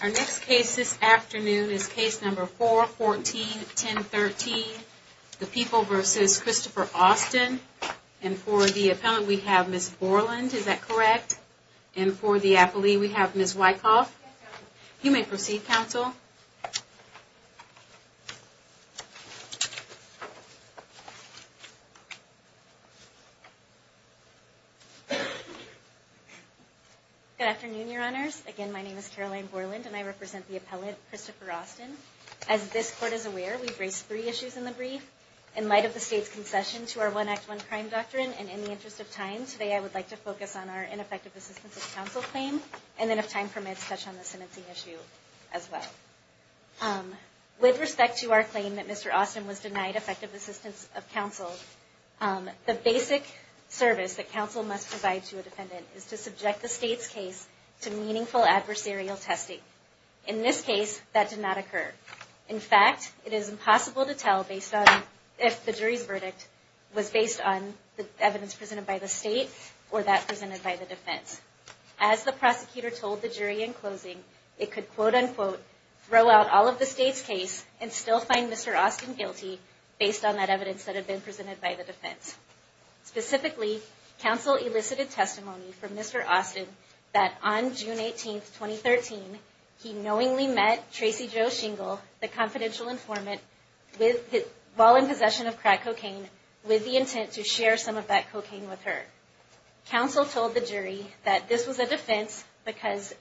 Our next case this afternoon is case number 4141013, The People v. Christopher Austin. And for the appellant, we have Ms. Borland. Is that correct? And for the appellee, we have Ms. Wyckoff. You may proceed, counsel. Good afternoon, Your Honors. Again, my name is Caroline Borland, and I represent the appellant, Christopher Austin. As this Court is aware, we've raised three issues in the brief. In light of the State's concession to our One Act, One Crime doctrine, and in the interest of time, today I would like to focus on our ineffective assistance of counsel claim, and then, if time permits, touch on the sentencing issue as well. With respect to our claim that Mr. Austin was denied effective assistance of counsel, the basic service that counsel must provide to a defendant is to subject the State's case to meaningful adversarial testing. In this case, that did not occur. In fact, it is impossible to tell if the jury's verdict was based on the evidence presented by the State or that presented by the defense. As the prosecutor told the jury in closing, it could, quote-unquote, throw out all of the State's case and still find Mr. Austin guilty, based on that evidence that had been presented by the defense. Specifically, counsel elicited testimony from Mr. Austin that on June 18, 2013, he knowingly met Tracy Jo Shingle, the confidential informant, while in possession of crack cocaine, with the intent to share some of that cocaine with her. Counsel told the jury that this was a defense because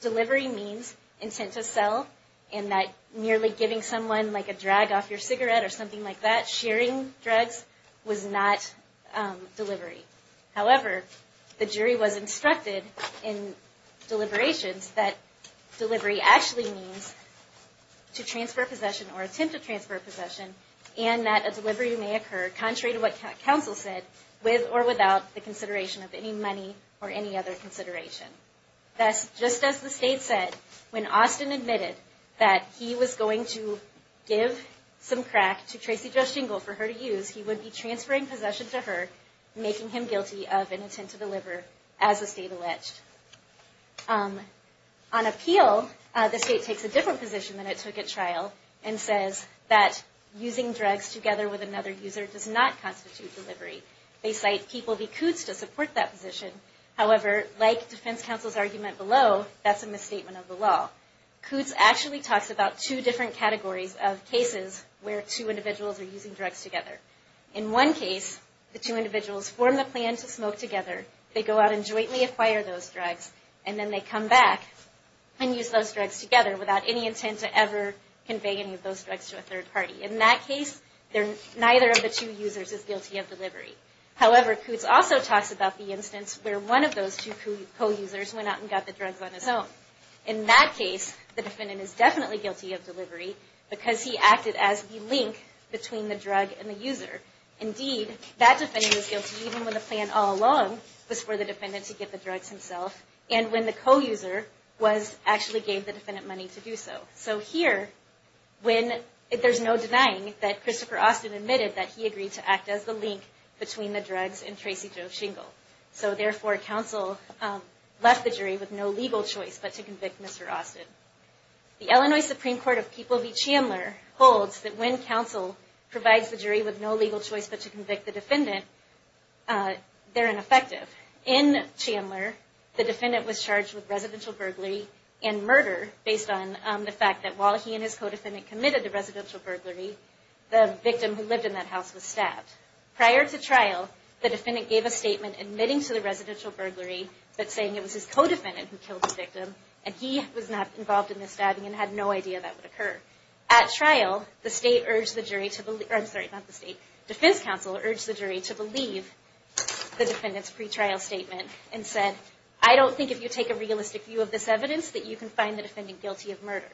delivery means intent to sell, and that merely giving someone a drag off your cigarette or something like that, sharing drugs, was not delivery. However, the jury was instructed in deliberations that delivery actually means to transfer possession or intent to transfer possession, and that a delivery may occur, contrary to what counsel said, with or without the consideration of any money or any other consideration. Thus, just as the State said, when Austin admitted that he was going to give some crack to Tracy Jo Shingle for her to use, he would be transferring possession to her, making him guilty of an intent to deliver, as the State alleged. On appeal, the State takes a different position than it took at trial, and says that using drugs together with another user does not constitute delivery. They cite People v. Kootz to support that position. However, like defense counsel's argument below, that's a misstatement of the law. Kootz actually talks about two different categories of cases where two individuals are using drugs together. In one case, the two individuals form the plan to smoke together. They go out and jointly acquire those drugs, and then they come back and use those drugs together without any intent to ever convey any of those drugs to a third party. In that case, neither of the two users is guilty of delivery. However, Kootz also talks about the instance where one of those two co-users went out and got the drugs on his own. In that case, the defendant is definitely guilty of delivery because he acted as the link between the drug and the user. Indeed, that defendant was guilty even when the plan all along was for the defendant to get the drugs himself, and when the co-user actually gave the defendant money to do so. So here, there's no denying that Christopher Austin admitted that he agreed to act as the link between the drugs and Tracy Jo Shingle. So therefore, counsel left the jury with no legal choice but to convict Mr. Austin. The Illinois Supreme Court of People v. Chandler holds that when counsel provides the jury with no legal choice but to convict the defendant, they're ineffective. In Chandler, the defendant was charged with residential burglary and murder based on the fact that while he and his co-defendant committed the residential burglary, the victim who lived in that house was stabbed. Prior to trial, the defendant gave a statement admitting to the residential burglary, but saying it was his co-defendant who killed the victim, and he was not involved in the stabbing and had no idea that would occur. At trial, the defense counsel urged the jury to believe the defendant's pre-trial statement and said, I don't think if you take a realistic view of this evidence that you can find the defendant guilty of murder.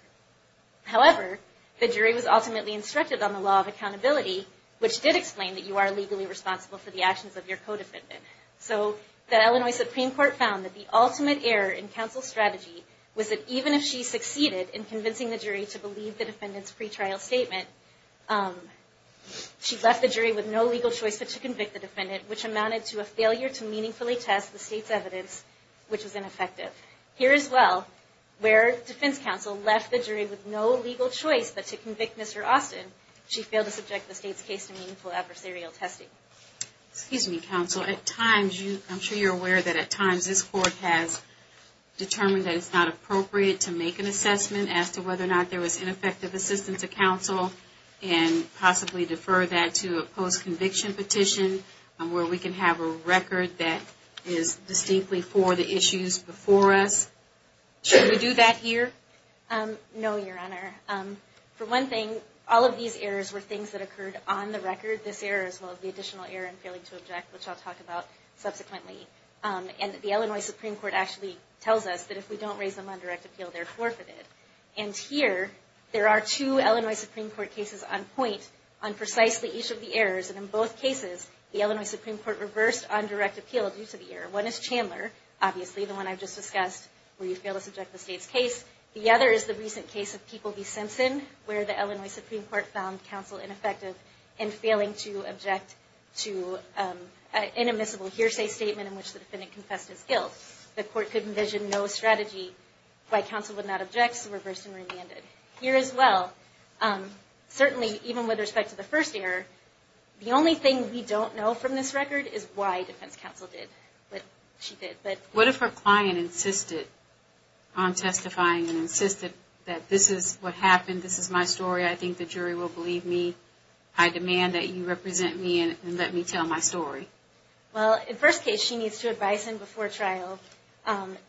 However, the jury was ultimately instructed on the law of accountability, which did explain that you are legally responsible for the actions of your co-defendant. So the Illinois Supreme Court found that the ultimate error in counsel's strategy was that even if she succeeded in convincing the jury to believe the defendant's pre-trial statement, she left the jury with no legal choice but to convict the defendant, which amounted to a failure to meaningfully test the state's evidence, which was ineffective. Here as well, where defense counsel left the jury with no legal choice but to convict Mr. Austin, she failed to subject the state's case to meaningful adversarial testing. Excuse me, counsel. At times, I'm sure you're aware that at times this court has determined that it's not appropriate to make an assessment as to whether or not there was ineffective assistance of counsel and possibly defer that to a post-conviction petition where we can have a record that is distinctly for the issues before us. Should we do that here? No, Your Honor. For one thing, all of these errors were things that occurred on the record. This error as well as the additional error in failing to object, which I'll talk about subsequently. And the Illinois Supreme Court actually tells us that if we don't raise them on direct appeal, they're forfeited. And here, there are two Illinois Supreme Court cases on point on precisely each of the errors. And in both cases, the Illinois Supreme Court reversed on direct appeal due to the error. One is Chandler, obviously, the one I've just discussed, where you fail to subject the state's case. The other is the recent case of People v. Simpson, where the Illinois Supreme Court found counsel ineffective in failing to object to an immiscible hearsay statement in which the defendant confessed his guilt. The court could envision no strategy why counsel would not object, so reversed and remanded. Here as well, certainly even with respect to the first error, the only thing we don't know from this record is why defense counsel did what she did. What if her client insisted on testifying and insisted that this is what happened, this is my story, I think the jury will believe me, I demand that you represent me and let me tell my story? Well, in the first case, she needs to advise him before trial,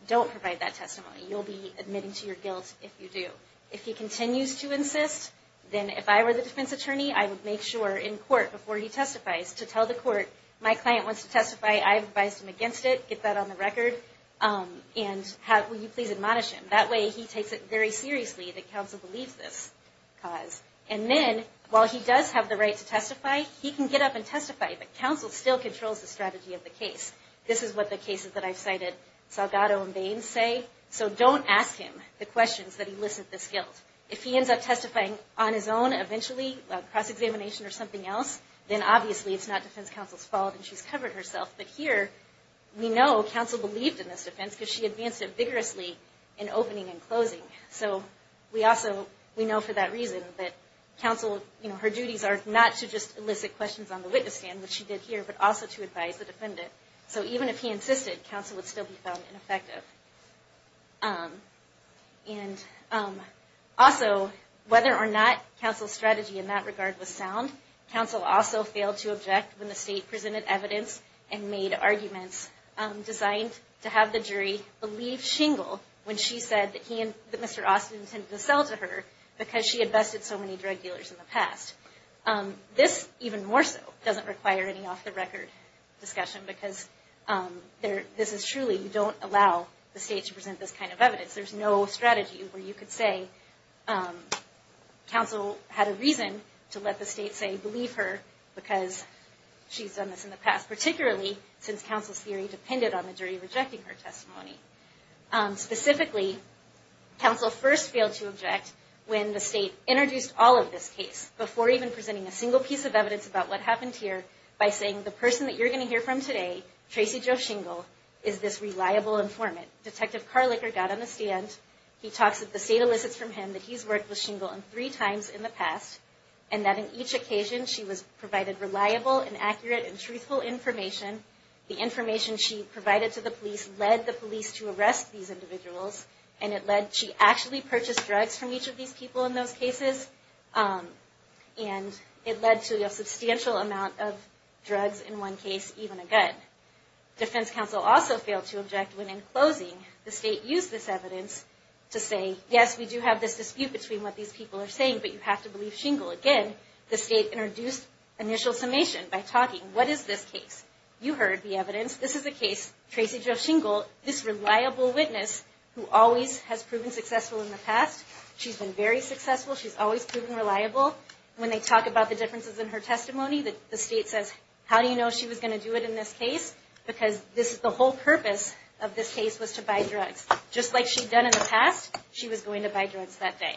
don't provide that testimony. You'll be admitting to your guilt if you do. If he continues to insist, then if I were the defense attorney, I would make sure in court before he testifies to tell the court, my client wants to testify, I've advised him against it, get that on the record, and will you please admonish him. That way he takes it very seriously that counsel believes this cause. And then, while he does have the right to testify, he can get up and testify, but counsel still controls the strategy of the case. This is what the cases that I've cited, Salgado and Baines say, so don't ask him the questions that elicit this guilt. If he ends up testifying on his own eventually, a cross-examination or something else, then obviously it's not defense counsel's fault and she's covered herself. But here, we know counsel believed in this defense because she advanced it vigorously in opening and closing. So we also, we know for that reason that counsel, you know, her duties are not to just elicit questions on the witness stand, which she did here, but also to advise the defendant. So even if he insisted, counsel would still be found ineffective. And also, whether or not counsel's strategy in that regard was sound, counsel also failed to object when the state presented evidence and made arguments designed to have the jury believe Shingle when she said that he and Mr. Austin tended to sell to her because she had bested so many drug dealers in the past. This, even more so, doesn't require any off-the-record discussion because this is truly, you don't allow the state to present this kind of evidence. There's no strategy where you could say counsel had a reason to let the state say, believe her because she's done this in the past, particularly since counsel's theory depended on the jury rejecting her testimony. Specifically, counsel first failed to object when the state introduced all of this case, before even presenting a single piece of evidence about what happened here, by saying the person that you're going to hear from today, Tracy Jo Shingle, is this reliable informant. Detective Carliker got on the stand, he talks that the state elicits from him that he's worked with Shingle three times in the past, and that in each occasion she was provided reliable and accurate and truthful information. The information she provided to the police led the police to arrest these individuals, and it led, she actually purchased drugs from each of these people in those cases, and it led to a substantial amount of drugs in one case, even a gun. Defense counsel also failed to object when, in closing, the state used this evidence to say, yes, we do have this dispute between what these people are saying, but you have to believe Shingle. Again, the state introduced initial summation by talking, what is this case? You heard the evidence. This is the case, Tracy Jo Shingle, this reliable witness who always has proven successful in the past. She's been very successful. She's always proven reliable. When they talk about the differences in her testimony, the state says, how do you know she was going to do it in this case? Because the whole purpose of this case was to buy drugs. Just like she'd done in the past, she was going to buy drugs that day.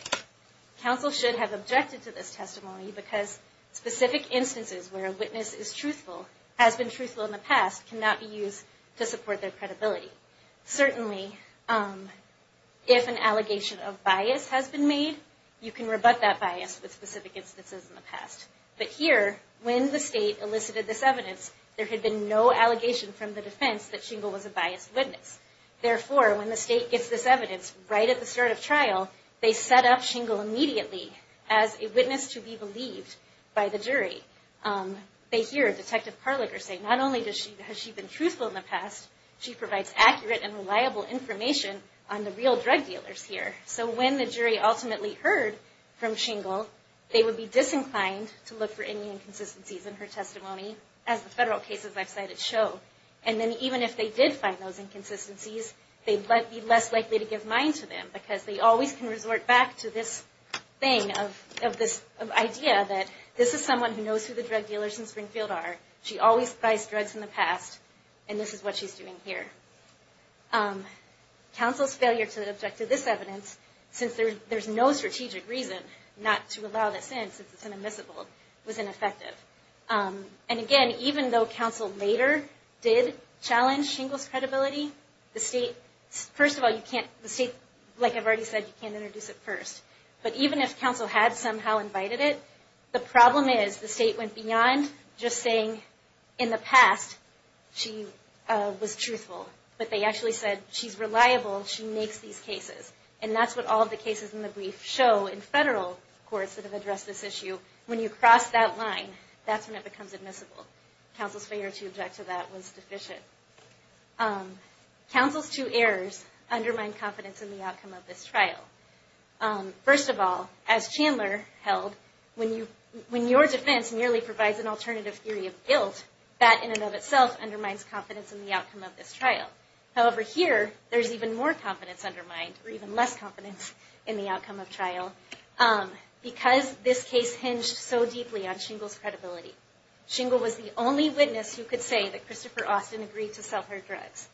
Counsel should have objected to this testimony because specific instances where a witness is truthful, has been truthful in the past, cannot be used to support their credibility. Certainly, if an allegation of bias has been made, you can rebut that bias with specific instances in the past. But here, when the state elicited this evidence, there had been no allegation from the defense that Shingle was a biased witness. Therefore, when the state gets this evidence right at the start of trial, they set up Shingle immediately as a witness to be believed by the jury. They hear Detective Carliker say, not only has she been truthful in the past, she provides accurate and reliable information on the real drug dealers here. So when the jury ultimately heard from Shingle, they would be disinclined to look for any inconsistencies in her testimony, as the federal cases I've cited show. And then even if they did find those inconsistencies, they'd be less likely to give mine to them, because they always can resort back to this idea that this is someone who knows who the drug dealers in Springfield are. She always buys drugs in the past, and this is what she's doing here. Counsel's failure to object to this evidence, since there's no strategic reason not to allow this in, since it's an admissible, was ineffective. And again, even though counsel later did challenge Shingle's credibility, the state, first of all, you can't, the state, like I've already said, you can't introduce it first. But even if counsel had somehow invited it, the problem is the state went beyond just saying, in the past, she was truthful. But they actually said, she's reliable, she makes these cases. And that's what all of the cases in the brief show in federal courts that have addressed this issue. When you cross that line, that's when it becomes admissible. Counsel's failure to object to that was deficient. Counsel's two errors undermine confidence in the outcome of this trial. First of all, as Chandler held, when your defense nearly provides an alternative theory of guilt, that in and of itself undermines confidence in the outcome of this trial. However, here, there's even more confidence undermined, or even less confidence in the outcome of trial, because this case hinged so deeply on Shingle's credibility. Shingle was the only witness who could say that Christopher Austin agreed to sell her drugs.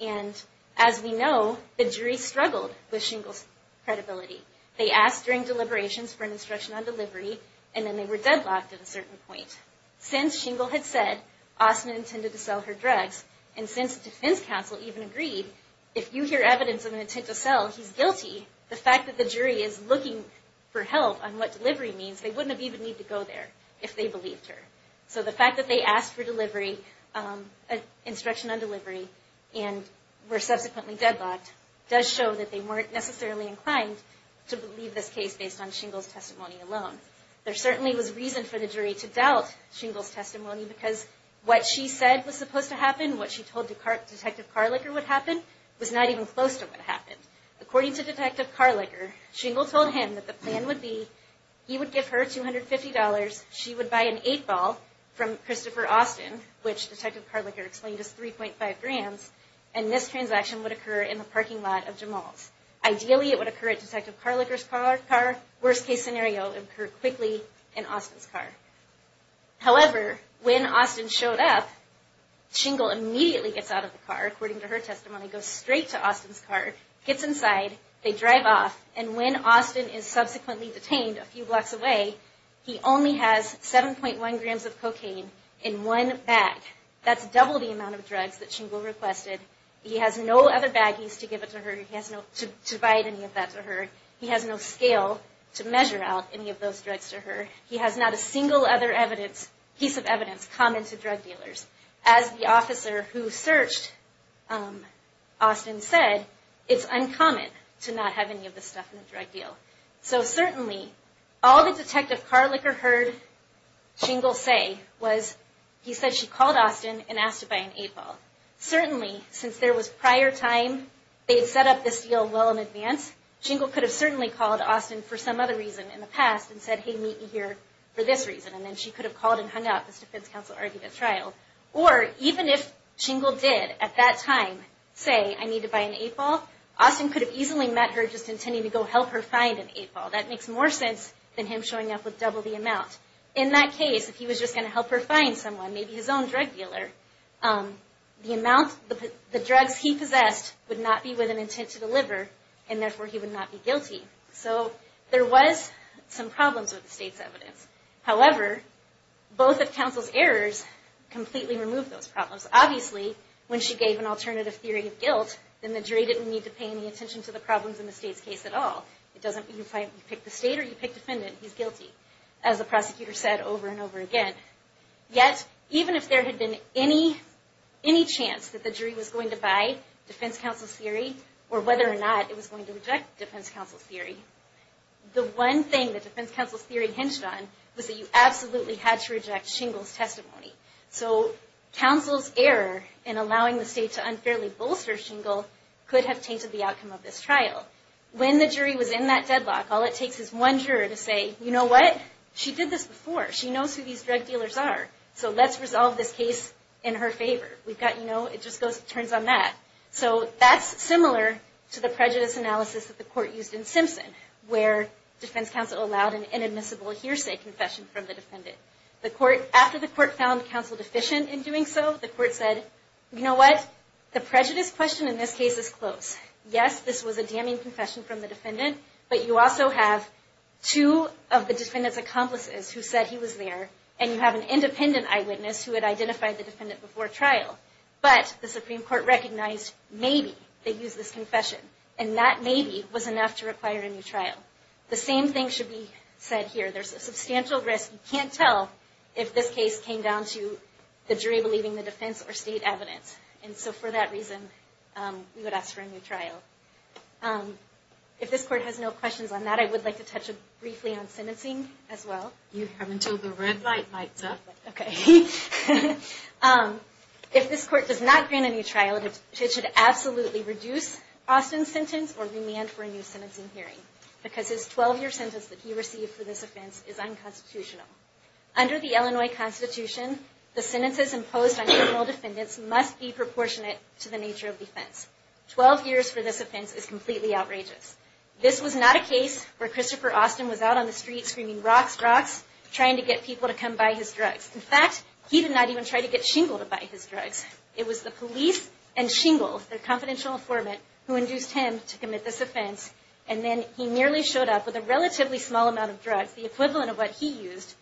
And as we know, the jury struggled with Shingle's credibility. They asked during deliberations for an instruction on delivery, and then they were deadlocked at a certain point. Since Shingle had said Austin intended to sell her drugs, and since defense counsel even agreed, if you hear evidence of an intent to sell, he's guilty, the fact that the jury is looking for help on what delivery means, they wouldn't have even needed to go there if they believed her. So the fact that they asked for delivery, instruction on delivery, and were subsequently deadlocked, does show that they weren't necessarily inclined to believe this case based on Shingle's testimony alone. There certainly was reason for the jury to doubt Shingle's testimony, because what she said was supposed to happen, what she told Detective Carliker would happen, was not even close to what happened. According to Detective Carliker, Shingle told him that the plan would be, he would give her $250, she would buy an 8-ball from Christopher Austin, which Detective Carliker explained is 3.5 grams, and this transaction would occur in the parking lot of Jamal's. Ideally it would occur at Detective Carliker's car, worst case scenario, it would occur quickly in Austin's car. However, when Austin showed up, Shingle immediately gets out of the car, according to her testimony, goes straight to Austin's car, gets inside, they drive off, and when Austin is subsequently detained a few blocks away, he only has 7.1 grams of cocaine in one bag. That's double the amount of drugs that Shingle requested. He has no other baggies to give it to her, to provide any of that to her. He has no scale to measure out any of those drugs to her. He has not a single other piece of evidence common to drug dealers. As the officer who searched Austin said, it's uncommon to not have any of this stuff in a drug deal. So certainly, all that Detective Carliker heard Shingle say was, he said she called Austin and asked to buy an 8-ball. Certainly, since there was prior time, they had set up this deal well in advance, Shingle could have certainly called Austin for some other reason in the past and said, hey, meet me here for this reason, and then she could have called and hung up, as defense counsel argued at trial. Or, even if Shingle did, at that time, say, I need to buy an 8-ball, Austin could have easily met her just intending to go help her find an 8-ball. That makes more sense than him showing up with double the amount. In that case, if he was just going to help her find someone, maybe his own drug dealer, the drugs he possessed would not be with an intent to deliver, and therefore he would not be guilty. So, there was some problems with the state's evidence. Obviously, when she gave an alternative theory of guilt, then the jury didn't need to pay any attention to the problems in the state's case at all. It doesn't matter if you pick the state or you pick defendant, he's guilty, as the prosecutor said over and over again. Yet, even if there had been any chance that the jury was going to buy defense counsel's theory, or whether or not it was going to reject defense counsel's theory, the one thing that defense counsel's theory hinged on was that you absolutely had to reject Shingle's testimony. So, counsel's error in allowing the state to unfairly bolster Shingle could have tainted the outcome of this trial. When the jury was in that deadlock, all it takes is one juror to say, you know what, she did this before, she knows who these drug dealers are, so let's resolve this case in her favor. It just turns on that. So, that's similar to the prejudice analysis that the court used in Simpson, where defense counsel allowed an inadmissible hearsay confession from the defendant. After the court found counsel deficient in doing so, the court said, you know what, the prejudice question in this case is close. Yes, this was a damning confession from the defendant, but you also have two of the defendant's accomplices who said he was there, and you have an independent eyewitness who had identified the defendant before trial, but the Supreme Court recognized maybe they used this confession, and that maybe was enough to require a new trial. The same thing should be said here. There's a substantial risk. You can't tell if this case came down to the jury believing the defense or state evidence, and so for that reason, we would ask for a new trial. If this court has no questions on that, I would like to touch briefly on sentencing as well. You have until the red light lights up. Okay. If this court does not grant a new trial, it should absolutely reduce Austin's sentence or remand for a new sentencing hearing, because his 12-year sentence that he received for this offense is unconstitutional. Under the Illinois Constitution, the sentences imposed on criminal defendants must be proportionate to the nature of the offense. Twelve years for this offense is completely outrageous. This was not a case where Christopher Austin was out on the street screaming, rocks, rocks, trying to get people to come buy his drugs. In fact, he did not even try to get Shingle to buy his drugs. It was the police and Shingle, their confidential informant, who induced him to commit this offense, and then he merely showed up with a relatively small amount of drugs, the equivalent of what he used,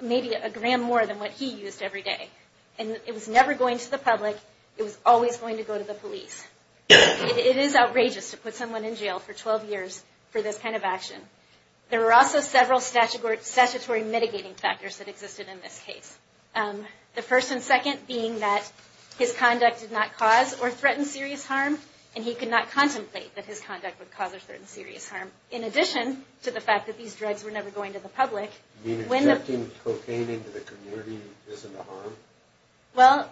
maybe a gram more than what he used every day. And it was never going to the public. It was always going to go to the police. It is outrageous to put someone in jail for 12 years for this kind of action. There were also several statutory mitigating factors that existed in this case, the first and second being that his conduct did not cause or threaten serious harm, and he could not contemplate that his conduct would cause or threaten serious harm, in addition to the fact that these drugs were never going to the public. You mean injecting cocaine into the community isn't a harm? Well,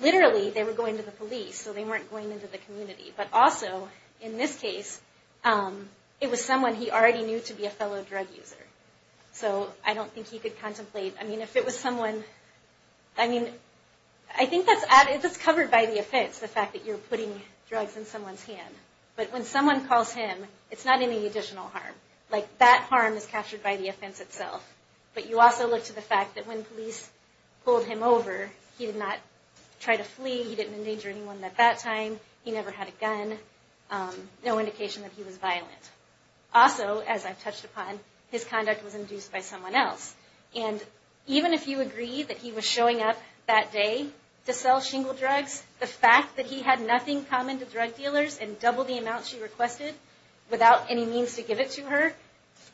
literally, they were going to the police, so they weren't going into the community. But also, in this case, it was someone he already knew to be a fellow drug user. So I don't think he could contemplate. I mean, if it was someone, I mean, I think that's covered by the offense, the fact that you're putting drugs in someone's hand. But when someone calls him, it's not any additional harm. Like, that harm is captured by the offense itself. But you also look to the fact that when police pulled him over, he did not try to flee. He didn't endanger anyone at that time. He never had a gun, no indication that he was violent. Also, as I've touched upon, his conduct was induced by someone else. And even if you agree that he was showing up that day to sell shingle drugs, the fact that he had nothing common to drug dealers and doubled the amount she requested without any means to give it to her,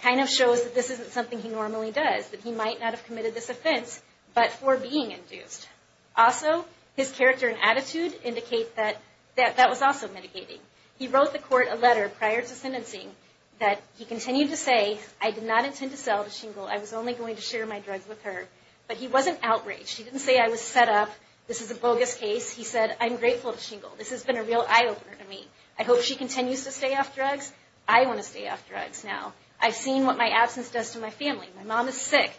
kind of shows that this isn't something he normally does, that he might not have committed this offense but for being induced. Also, his character and attitude indicate that that was also mitigating. He wrote the court a letter prior to sentencing that he continued to say, I did not intend to sell the shingle. I was only going to share my drugs with her. But he wasn't outraged. He didn't say, I was set up. This is a bogus case. He said, I'm grateful to shingle. This has been a real eye-opener to me. I hope she continues to stay off drugs. I want to stay off drugs now. I've seen what my absence does to my family. My mom is sick.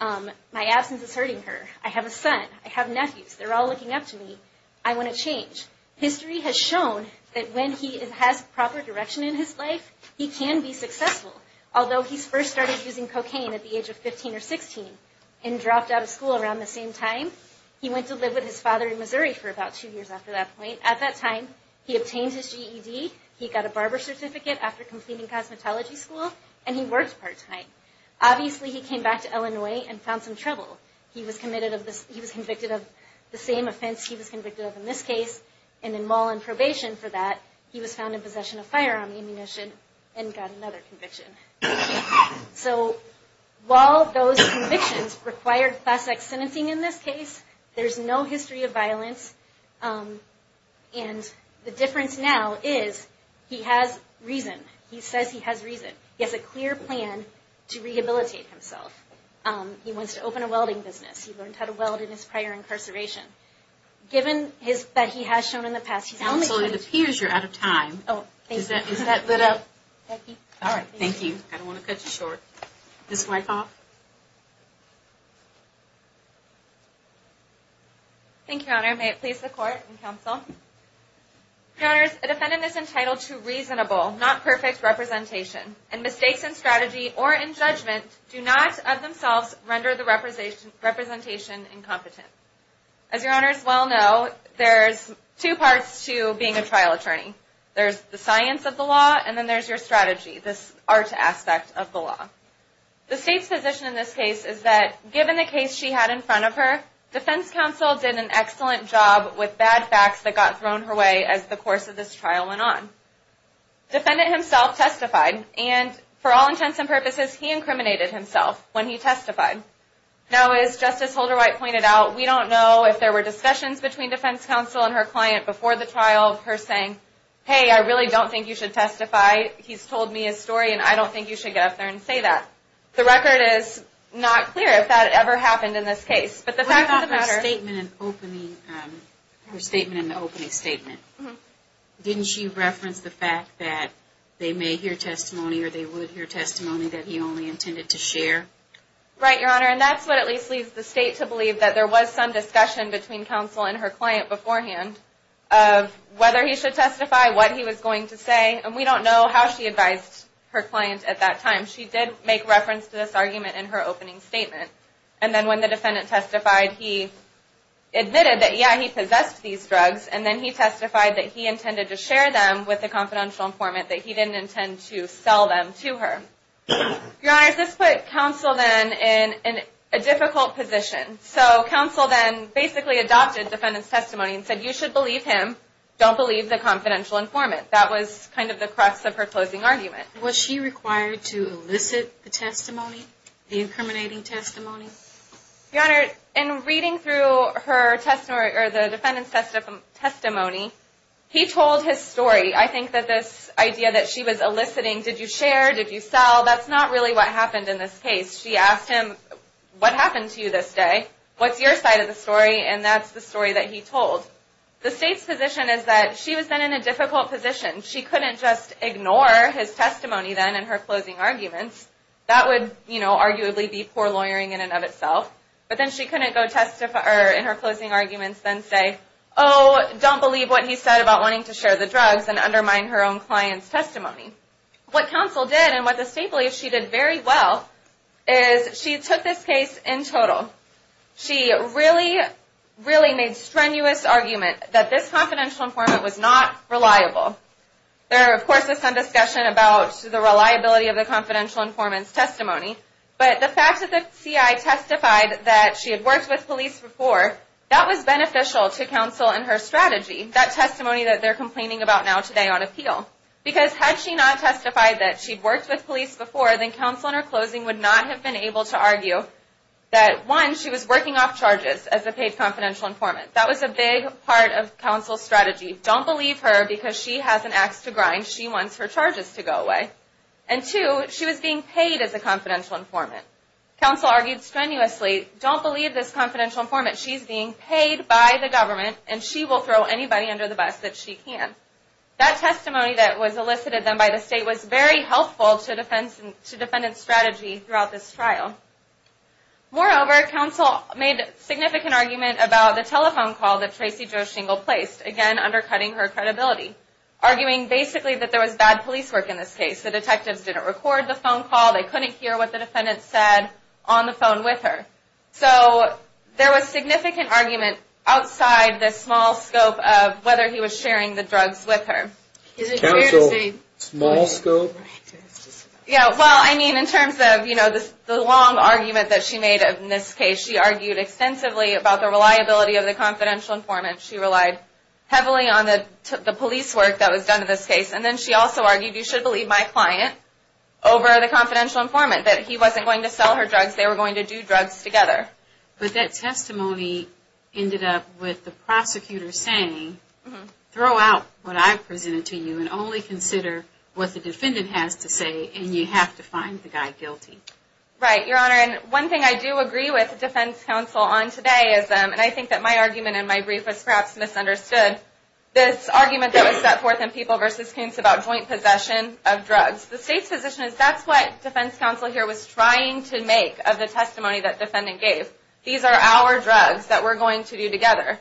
My absence is hurting her. I have a son. I have nephews. They're all looking up to me. I want to change. History has shown that when he has proper direction in his life, he can be successful. Although he first started using cocaine at the age of 15 or 16, and dropped out of school around the same time, he went to live with his father in Missouri for about two years after that point. At that time, he obtained his GED, he got a barber certificate after completing cosmetology school, and he worked part-time. Obviously, he came back to Illinois and found some trouble. He was convicted of the same offense he was convicted of in this case, and in mall and probation for that, he was found in possession of firearm ammunition and got another conviction. So, while those convictions required class-X sentencing in this case, there's no history of violence, and the difference now is he has reason. He says he has reason. He has a clear plan to rehabilitate himself. He wants to open a welding business. He learned how to weld in his prior incarceration. Given that he has shown in the past, he's only going to... All right, thank you. I don't want to cut you short. Ms. Wykoff. Thank you, Your Honor. May it please the Court and Counsel. Your Honors, a defendant is entitled to reasonable, not perfect representation, and mistakes in strategy or in judgment do not, of themselves, render the representation incompetent. As Your Honors well know, there's two parts to being a trial attorney. There's the science of the law, and then there's your strategy, this art aspect of the law. The State's position in this case is that, given the case she had in front of her, defense counsel did an excellent job with bad facts that got thrown her way as the course of this trial went on. Defendant himself testified, and for all intents and purposes, he incriminated himself when he testified. Now, as Justice Holderwhite pointed out, we don't know if there were discussions between defense counsel and her client before the trial of her saying, hey, I really don't think you should testify. He's told me his story, and I don't think you should get up there and say that. The record is not clear if that ever happened in this case, but the fact of the matter... What about her statement in the opening statement? Didn't she reference the fact that they may hear testimony, or they would hear testimony, that he only intended to share? Right, Your Honor, and that's what at least leads the State to believe that there was some discussion between counsel and her client beforehand of whether he should testify, what he was going to say, and we don't know how she advised her client at that time. She did make reference to this argument in her opening statement, and then when the defendant testified, he admitted that, yeah, he possessed these drugs, and then he testified that he intended to share them with the confidential informant, that he didn't intend to sell them to her. Your Honor, this put counsel then in a difficult position. So counsel then basically adopted the defendant's testimony and said, you should believe him, don't believe the confidential informant. That was kind of the crux of her closing argument. Was she required to elicit the testimony, the incriminating testimony? Your Honor, in reading through her testimony, or the defendant's testimony, he told his story. I think that this idea that she was eliciting, did you share, did you sell, that's not really what happened in this case. She asked him, what happened to you this day? What's your side of the story? And that's the story that he told. The State's position is that she was then in a difficult position. She couldn't just ignore his testimony then in her closing arguments. That would, you know, arguably be poor lawyering in and of itself. But then she couldn't go testify in her closing arguments, then say, oh, don't believe what he said about wanting to share the drugs and undermine her own client's testimony. What counsel did, and what the State believes she did very well, is she took this case in total. She really, really made strenuous argument that this confidential informant was not reliable. There, of course, is some discussion about the reliability of the confidential informant's testimony. But the fact that the CI testified that she had worked with police before, that was beneficial to counsel and her strategy, that testimony that they're complaining about now today on appeal. Because had she not testified that she'd worked with police before, then counsel in her closing would not have been able to argue that, one, she was working off charges as a paid confidential informant. That was a big part of counsel's strategy. Don't believe her because she has an ax to grind. She wants her charges to go away. And, two, she was being paid as a confidential informant. Counsel argued strenuously, don't believe this confidential informant. She's being paid by the government, and she will throw anybody under the bus that she can. That testimony that was elicited then by the state was very helpful to defendant's strategy throughout this trial. Moreover, counsel made significant argument about the telephone call that Tracy Jo Shingle placed, again undercutting her credibility, arguing basically that there was bad police work in this case. The detectives didn't record the phone call. They couldn't hear what the defendant said on the phone with her. So there was significant argument outside the small scope of whether he was sharing the drugs with her. Counsel, small scope? Yeah, well, I mean, in terms of, you know, the long argument that she made in this case, she argued extensively about the reliability of the confidential informant. She relied heavily on the police work that was done in this case. And then she also argued, you should believe my client over the confidential informant, that he wasn't going to sell her drugs. They were going to do drugs together. But that testimony ended up with the prosecutor saying, throw out what I presented to you and only consider what the defendant has to say, and you have to find the guy guilty. Right, Your Honor. And one thing I do agree with defense counsel on today is, and I think that my argument in my brief was perhaps misunderstood, the state's position is that's what defense counsel here was trying to make of the testimony that defendant gave. These are our drugs that we're going to do together.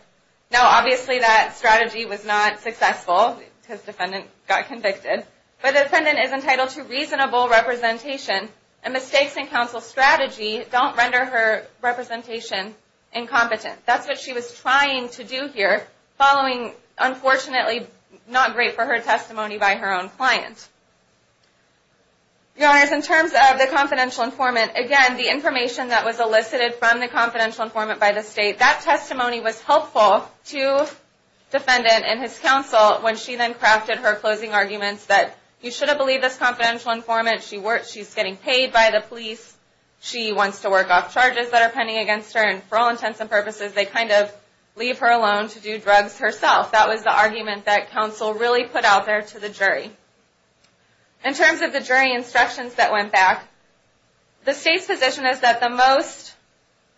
Now obviously that strategy was not successful because defendant got convicted. But the defendant is entitled to reasonable representation, and mistakes in counsel's strategy don't render her representation incompetent. That's what she was trying to do here, following unfortunately not great for her testimony by her own client. Your Honors, in terms of the confidential informant, again the information that was elicited from the confidential informant by the state, that testimony was helpful to defendant and his counsel when she then crafted her closing arguments that, you should have believed this confidential informant, she's getting paid by the police, she wants to work off charges that are pending against her, and for all intents and purposes they kind of leave her alone to do drugs herself. That was the argument that counsel really put out there to the jury. In terms of the jury instructions that went back, the state's position is that the most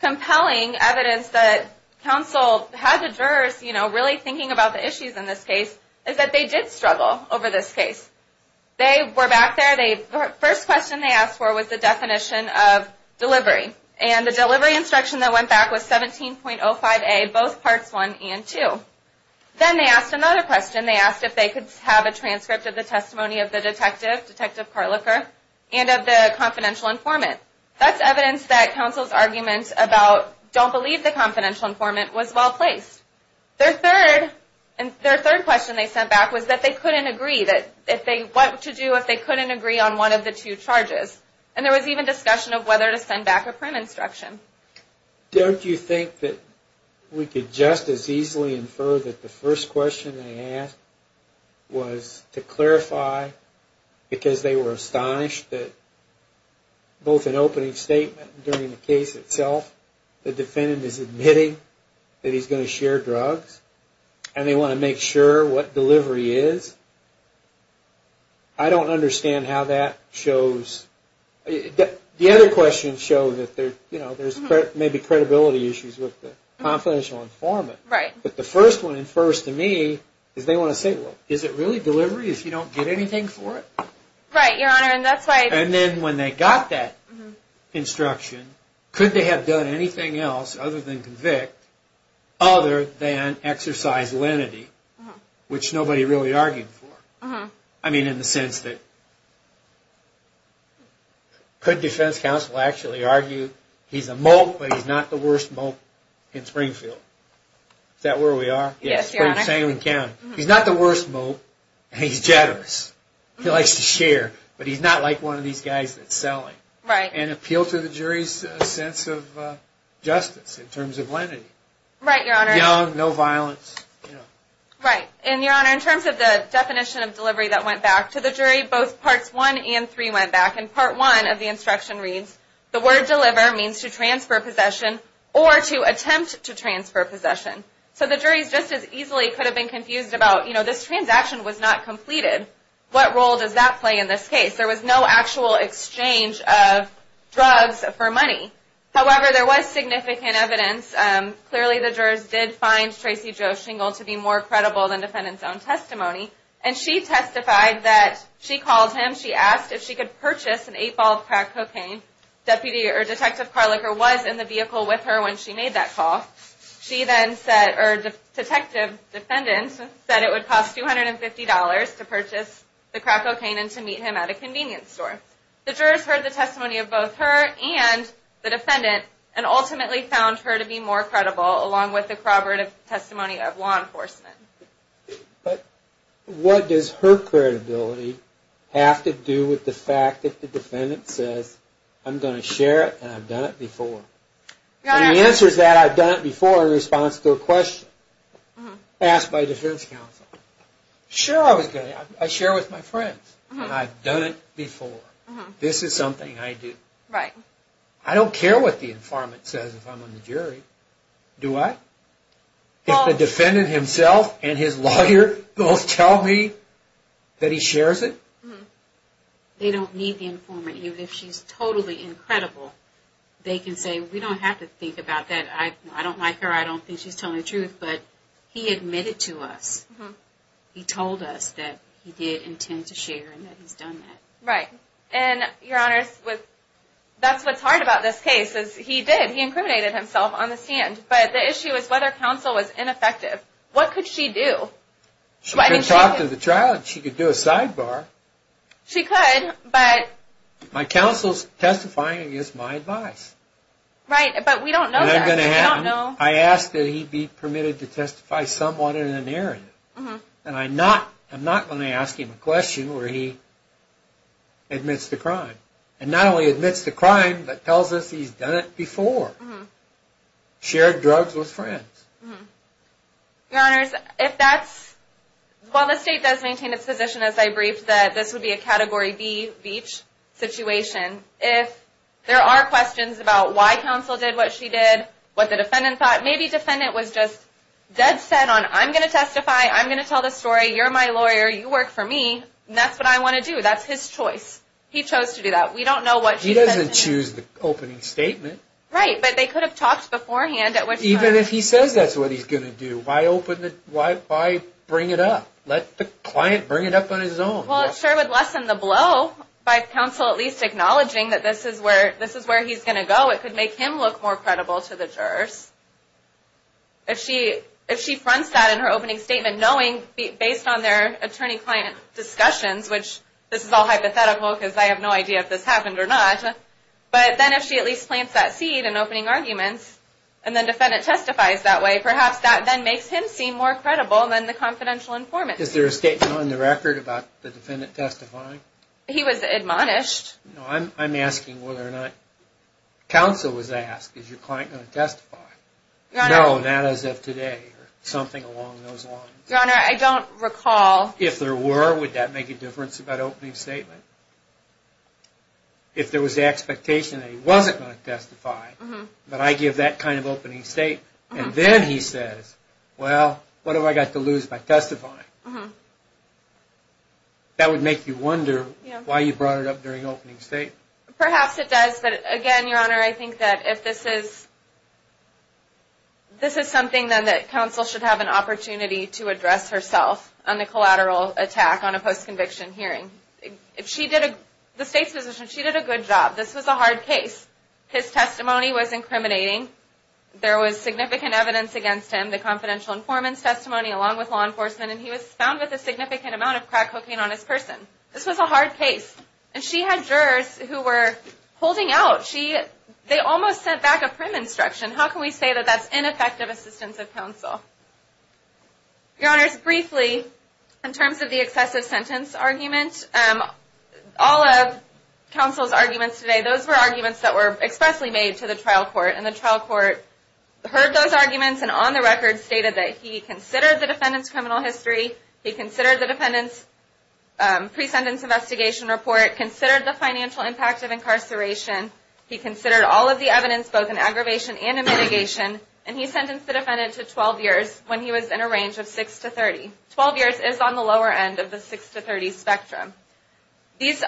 compelling evidence that counsel had the jurors really thinking about the issues in this case, is that they did struggle over this case. They were back there, the first question they asked for was the definition of delivery. And the delivery instruction that went back was 17.05a both parts 1 and 2. Then they asked another question, they asked if they could have a transcript of the testimony of the detective, Detective Carliker, and of the confidential informant. That's evidence that counsel's argument about don't believe the confidential informant was well placed. Their third question they sent back was that they couldn't agree, what to do if they couldn't agree on one of the two charges. And there was even discussion of whether to send back a print instruction. Don't you think that we could just as easily infer that the first question they asked was to clarify, because they were astonished that both in opening statement and during the case itself, the defendant is admitting that he's going to share drugs, and they want to make sure what delivery is. I don't understand how that shows, the other questions show that there's maybe credibility issues with the confidential informant. But the first one, and first to me, is they want to say, well, is it really delivery if you don't get anything for it? Right, your honor, and that's why... And then when they got that instruction, could they have done anything else other than convict, other than exercise lenity, which nobody really argued for. I mean, in the sense that could defense counsel actually argue, he's a mope, but he's not the worst mope in Springfield. Is that where we are? Yes, your honor. He's not the worst mope, and he's generous. He likes to share, but he's not like one of these guys that's selling. Right. And appeal to the jury's sense of justice in terms of lenity. Right, your honor. Young, no violence. Right, and your honor, in terms of the definition of delivery that went back to the jury, both parts one and three went back. And part one of the instruction reads, the word deliver means to transfer possession or to attempt to transfer possession. So the jury just as easily could have been confused about, you know, this transaction was not completed. What role does that play in this case? There was no actual exchange of drugs for money. However, there was significant evidence. Clearly the jurors did find Tracy Jo Shingle to be more credible than the defendant's own testimony. And she testified that she called him. She asked if she could purchase an eight ball of crack cocaine. Detective Carliker was in the vehicle with her when she made that call. She then said, or detective, defendant, said it would cost $250 to purchase the crack cocaine and to meet him at a convenience store. The jurors heard the testimony of both her and the defendant and ultimately found her to be more credible along with the corroborative testimony of law enforcement. But what does her credibility have to do with the fact that the defendant says, I'm going to share it and I've done it before? And the answer is that I've done it before in response to a question asked by defense counsel. Sure I was going to, I share with my friends. I've done it before. This is something I do. I don't care what the informant says if I'm on the jury. Do I? If the defendant himself and his lawyer both tell me that he shares it? They don't need the informant. If she's totally incredible, they can say, we don't have to think about that. I don't like her. I don't think she's telling the truth. But he admitted to us. He told us that he did intend to share and that he's done that. Right. And your honors, that's what's hard about this case is he did. He incriminated himself on the stand. But the issue is whether counsel was ineffective. What could she do? She could talk to the child. She could do a sidebar. She could, but. My counsel's testifying against my advice. Right, but we don't know this. I asked that he be permitted to testify somewhat in a narrative. And I'm not going to ask him a question where he admits to crime. And not only admits to crime, but tells us he's done it before. Shared drugs with friends. Your honors, if that's... It could be a Category B situation. If there are questions about why counsel did what she did, what the defendant thought... Maybe defendant was just dead set on I'm going to testify. I'm going to tell the story. You're my lawyer. You work for me. And that's what I want to do. That's his choice. He chose to do that. We don't know what she said. He doesn't choose the opening statement. Right, but they could have talked beforehand. Even if he says that's what he's going to do, why bring it up? Let the client bring it up on his own. Well, it sure would lessen the blow by counsel at least acknowledging that this is where he's going to go. It could make him look more credible to the jurors. If she fronts that in her opening statement, knowing based on their attorney-client discussions, which this is all hypothetical because I have no idea if this happened or not. But then if she at least plants that seed in opening arguments, and the defendant testifies that way, perhaps that then makes him seem more credible than the confidential informant. Is there a statement on the record about the defendant testifying? He was admonished. I'm asking whether or not counsel was asked, is your client going to testify? No, not as of today or something along those lines. Your Honor, I don't recall. If there were, would that make a difference about opening statement? If there was the expectation that he wasn't going to testify, but I give that kind of opening statement, and then he says, well, what have I got to lose by testifying? That would make you wonder why you brought it up during opening statement. Perhaps it does, but again, Your Honor, I think that if this is something then that counsel should have an opportunity to address herself on the collateral attack on a post-conviction hearing. The State's position, she did a good job. This was a hard case. His testimony was incriminating. There was significant evidence against him, the confidential informant's testimony along with law enforcement, and he was found with a significant amount of crack cocaine on his person. This was a hard case, and she had jurors who were holding out. They almost sent back a prim instruction. How can we say that that's ineffective assistance of counsel? Your Honors, briefly, in terms of the excessive sentence argument, all of counsel's arguments today, those were arguments that were expressly made to the trial court, and the trial court heard those arguments and, on the record, stated that he considered the defendant's criminal history, he considered the defendant's pre-sentence investigation report, considered the financial impact of incarceration, he considered all of the evidence both in aggravation and in mitigation, and he sentenced the defendant to 12 years when he was in a range of 6 to 30. Twelve years is on the lower end of the 6 to 30 spectrum. These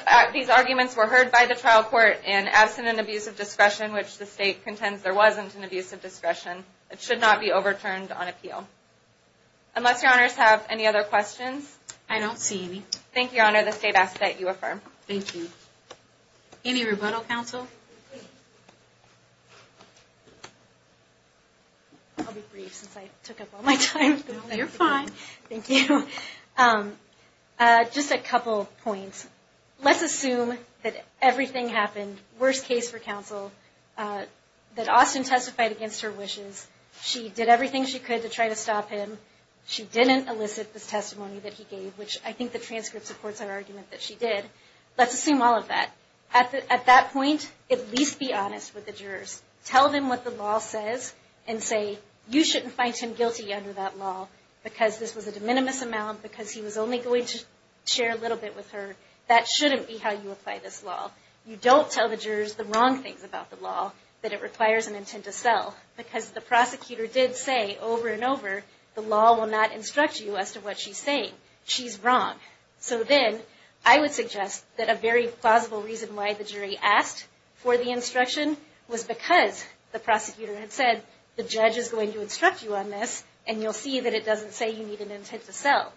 arguments were heard by the trial court in absent and abusive discretion, which the State contends there wasn't in abusive discretion. It should not be overturned on appeal. Unless Your Honors have any other questions? I don't see any. Thank you, Your Honor. The State asks that you affirm. Thank you. Any rebuttal, counsel? I'll be brief since I took up all my time. No, you're fine. Thank you. Just a couple points. First, let's assume that everything happened, worst case for counsel, that Austin testified against her wishes. She did everything she could to try to stop him. She didn't elicit the testimony that he gave, which I think the transcript supports our argument that she did. Let's assume all of that. At that point, at least be honest with the jurors. Tell them what the law says and say, you shouldn't find him guilty under that law because this was a de minimis amount, because he was only going to share a little bit with her. That shouldn't be how you apply this law. You don't tell the jurors the wrong things about the law, that it requires an intent to sell, because the prosecutor did say over and over, the law will not instruct you as to what she's saying. She's wrong. So then I would suggest that a very plausible reason why the jury asked for the instruction was because the prosecutor had said the judge is going to instruct you on this, and you'll see that it doesn't say you need an intent to sell.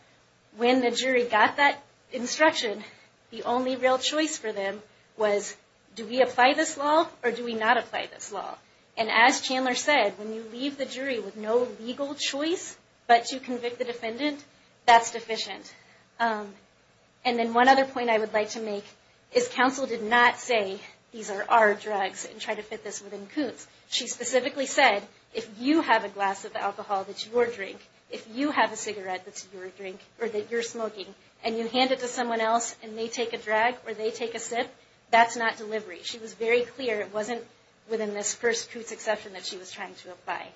When the jury got that instruction, the only real choice for them was, do we apply this law or do we not apply this law? And as Chandler said, when you leave the jury with no legal choice but to convict the defendant, that's deficient. And then one other point I would like to make is, counsel did not say these are our drugs and try to fit this within Koontz. She specifically said, if you have a glass of alcohol that's your drink, if you have a cigarette that's your drink or that you're smoking, and you hand it to someone else and they take a drag or they take a sip, that's not delivery. She was very clear it wasn't within this first Koontz exception that she was trying to apply.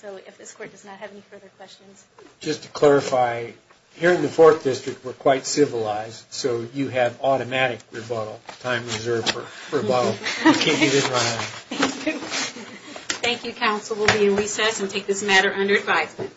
So if this Court does not have any further questions. Just to clarify, here in the Fourth District we're quite civilized, so you have automatic rebuttal, time reserved for rebuttal. Thank you. Thank you, counsel. We'll be in recess and take this matter under advisement.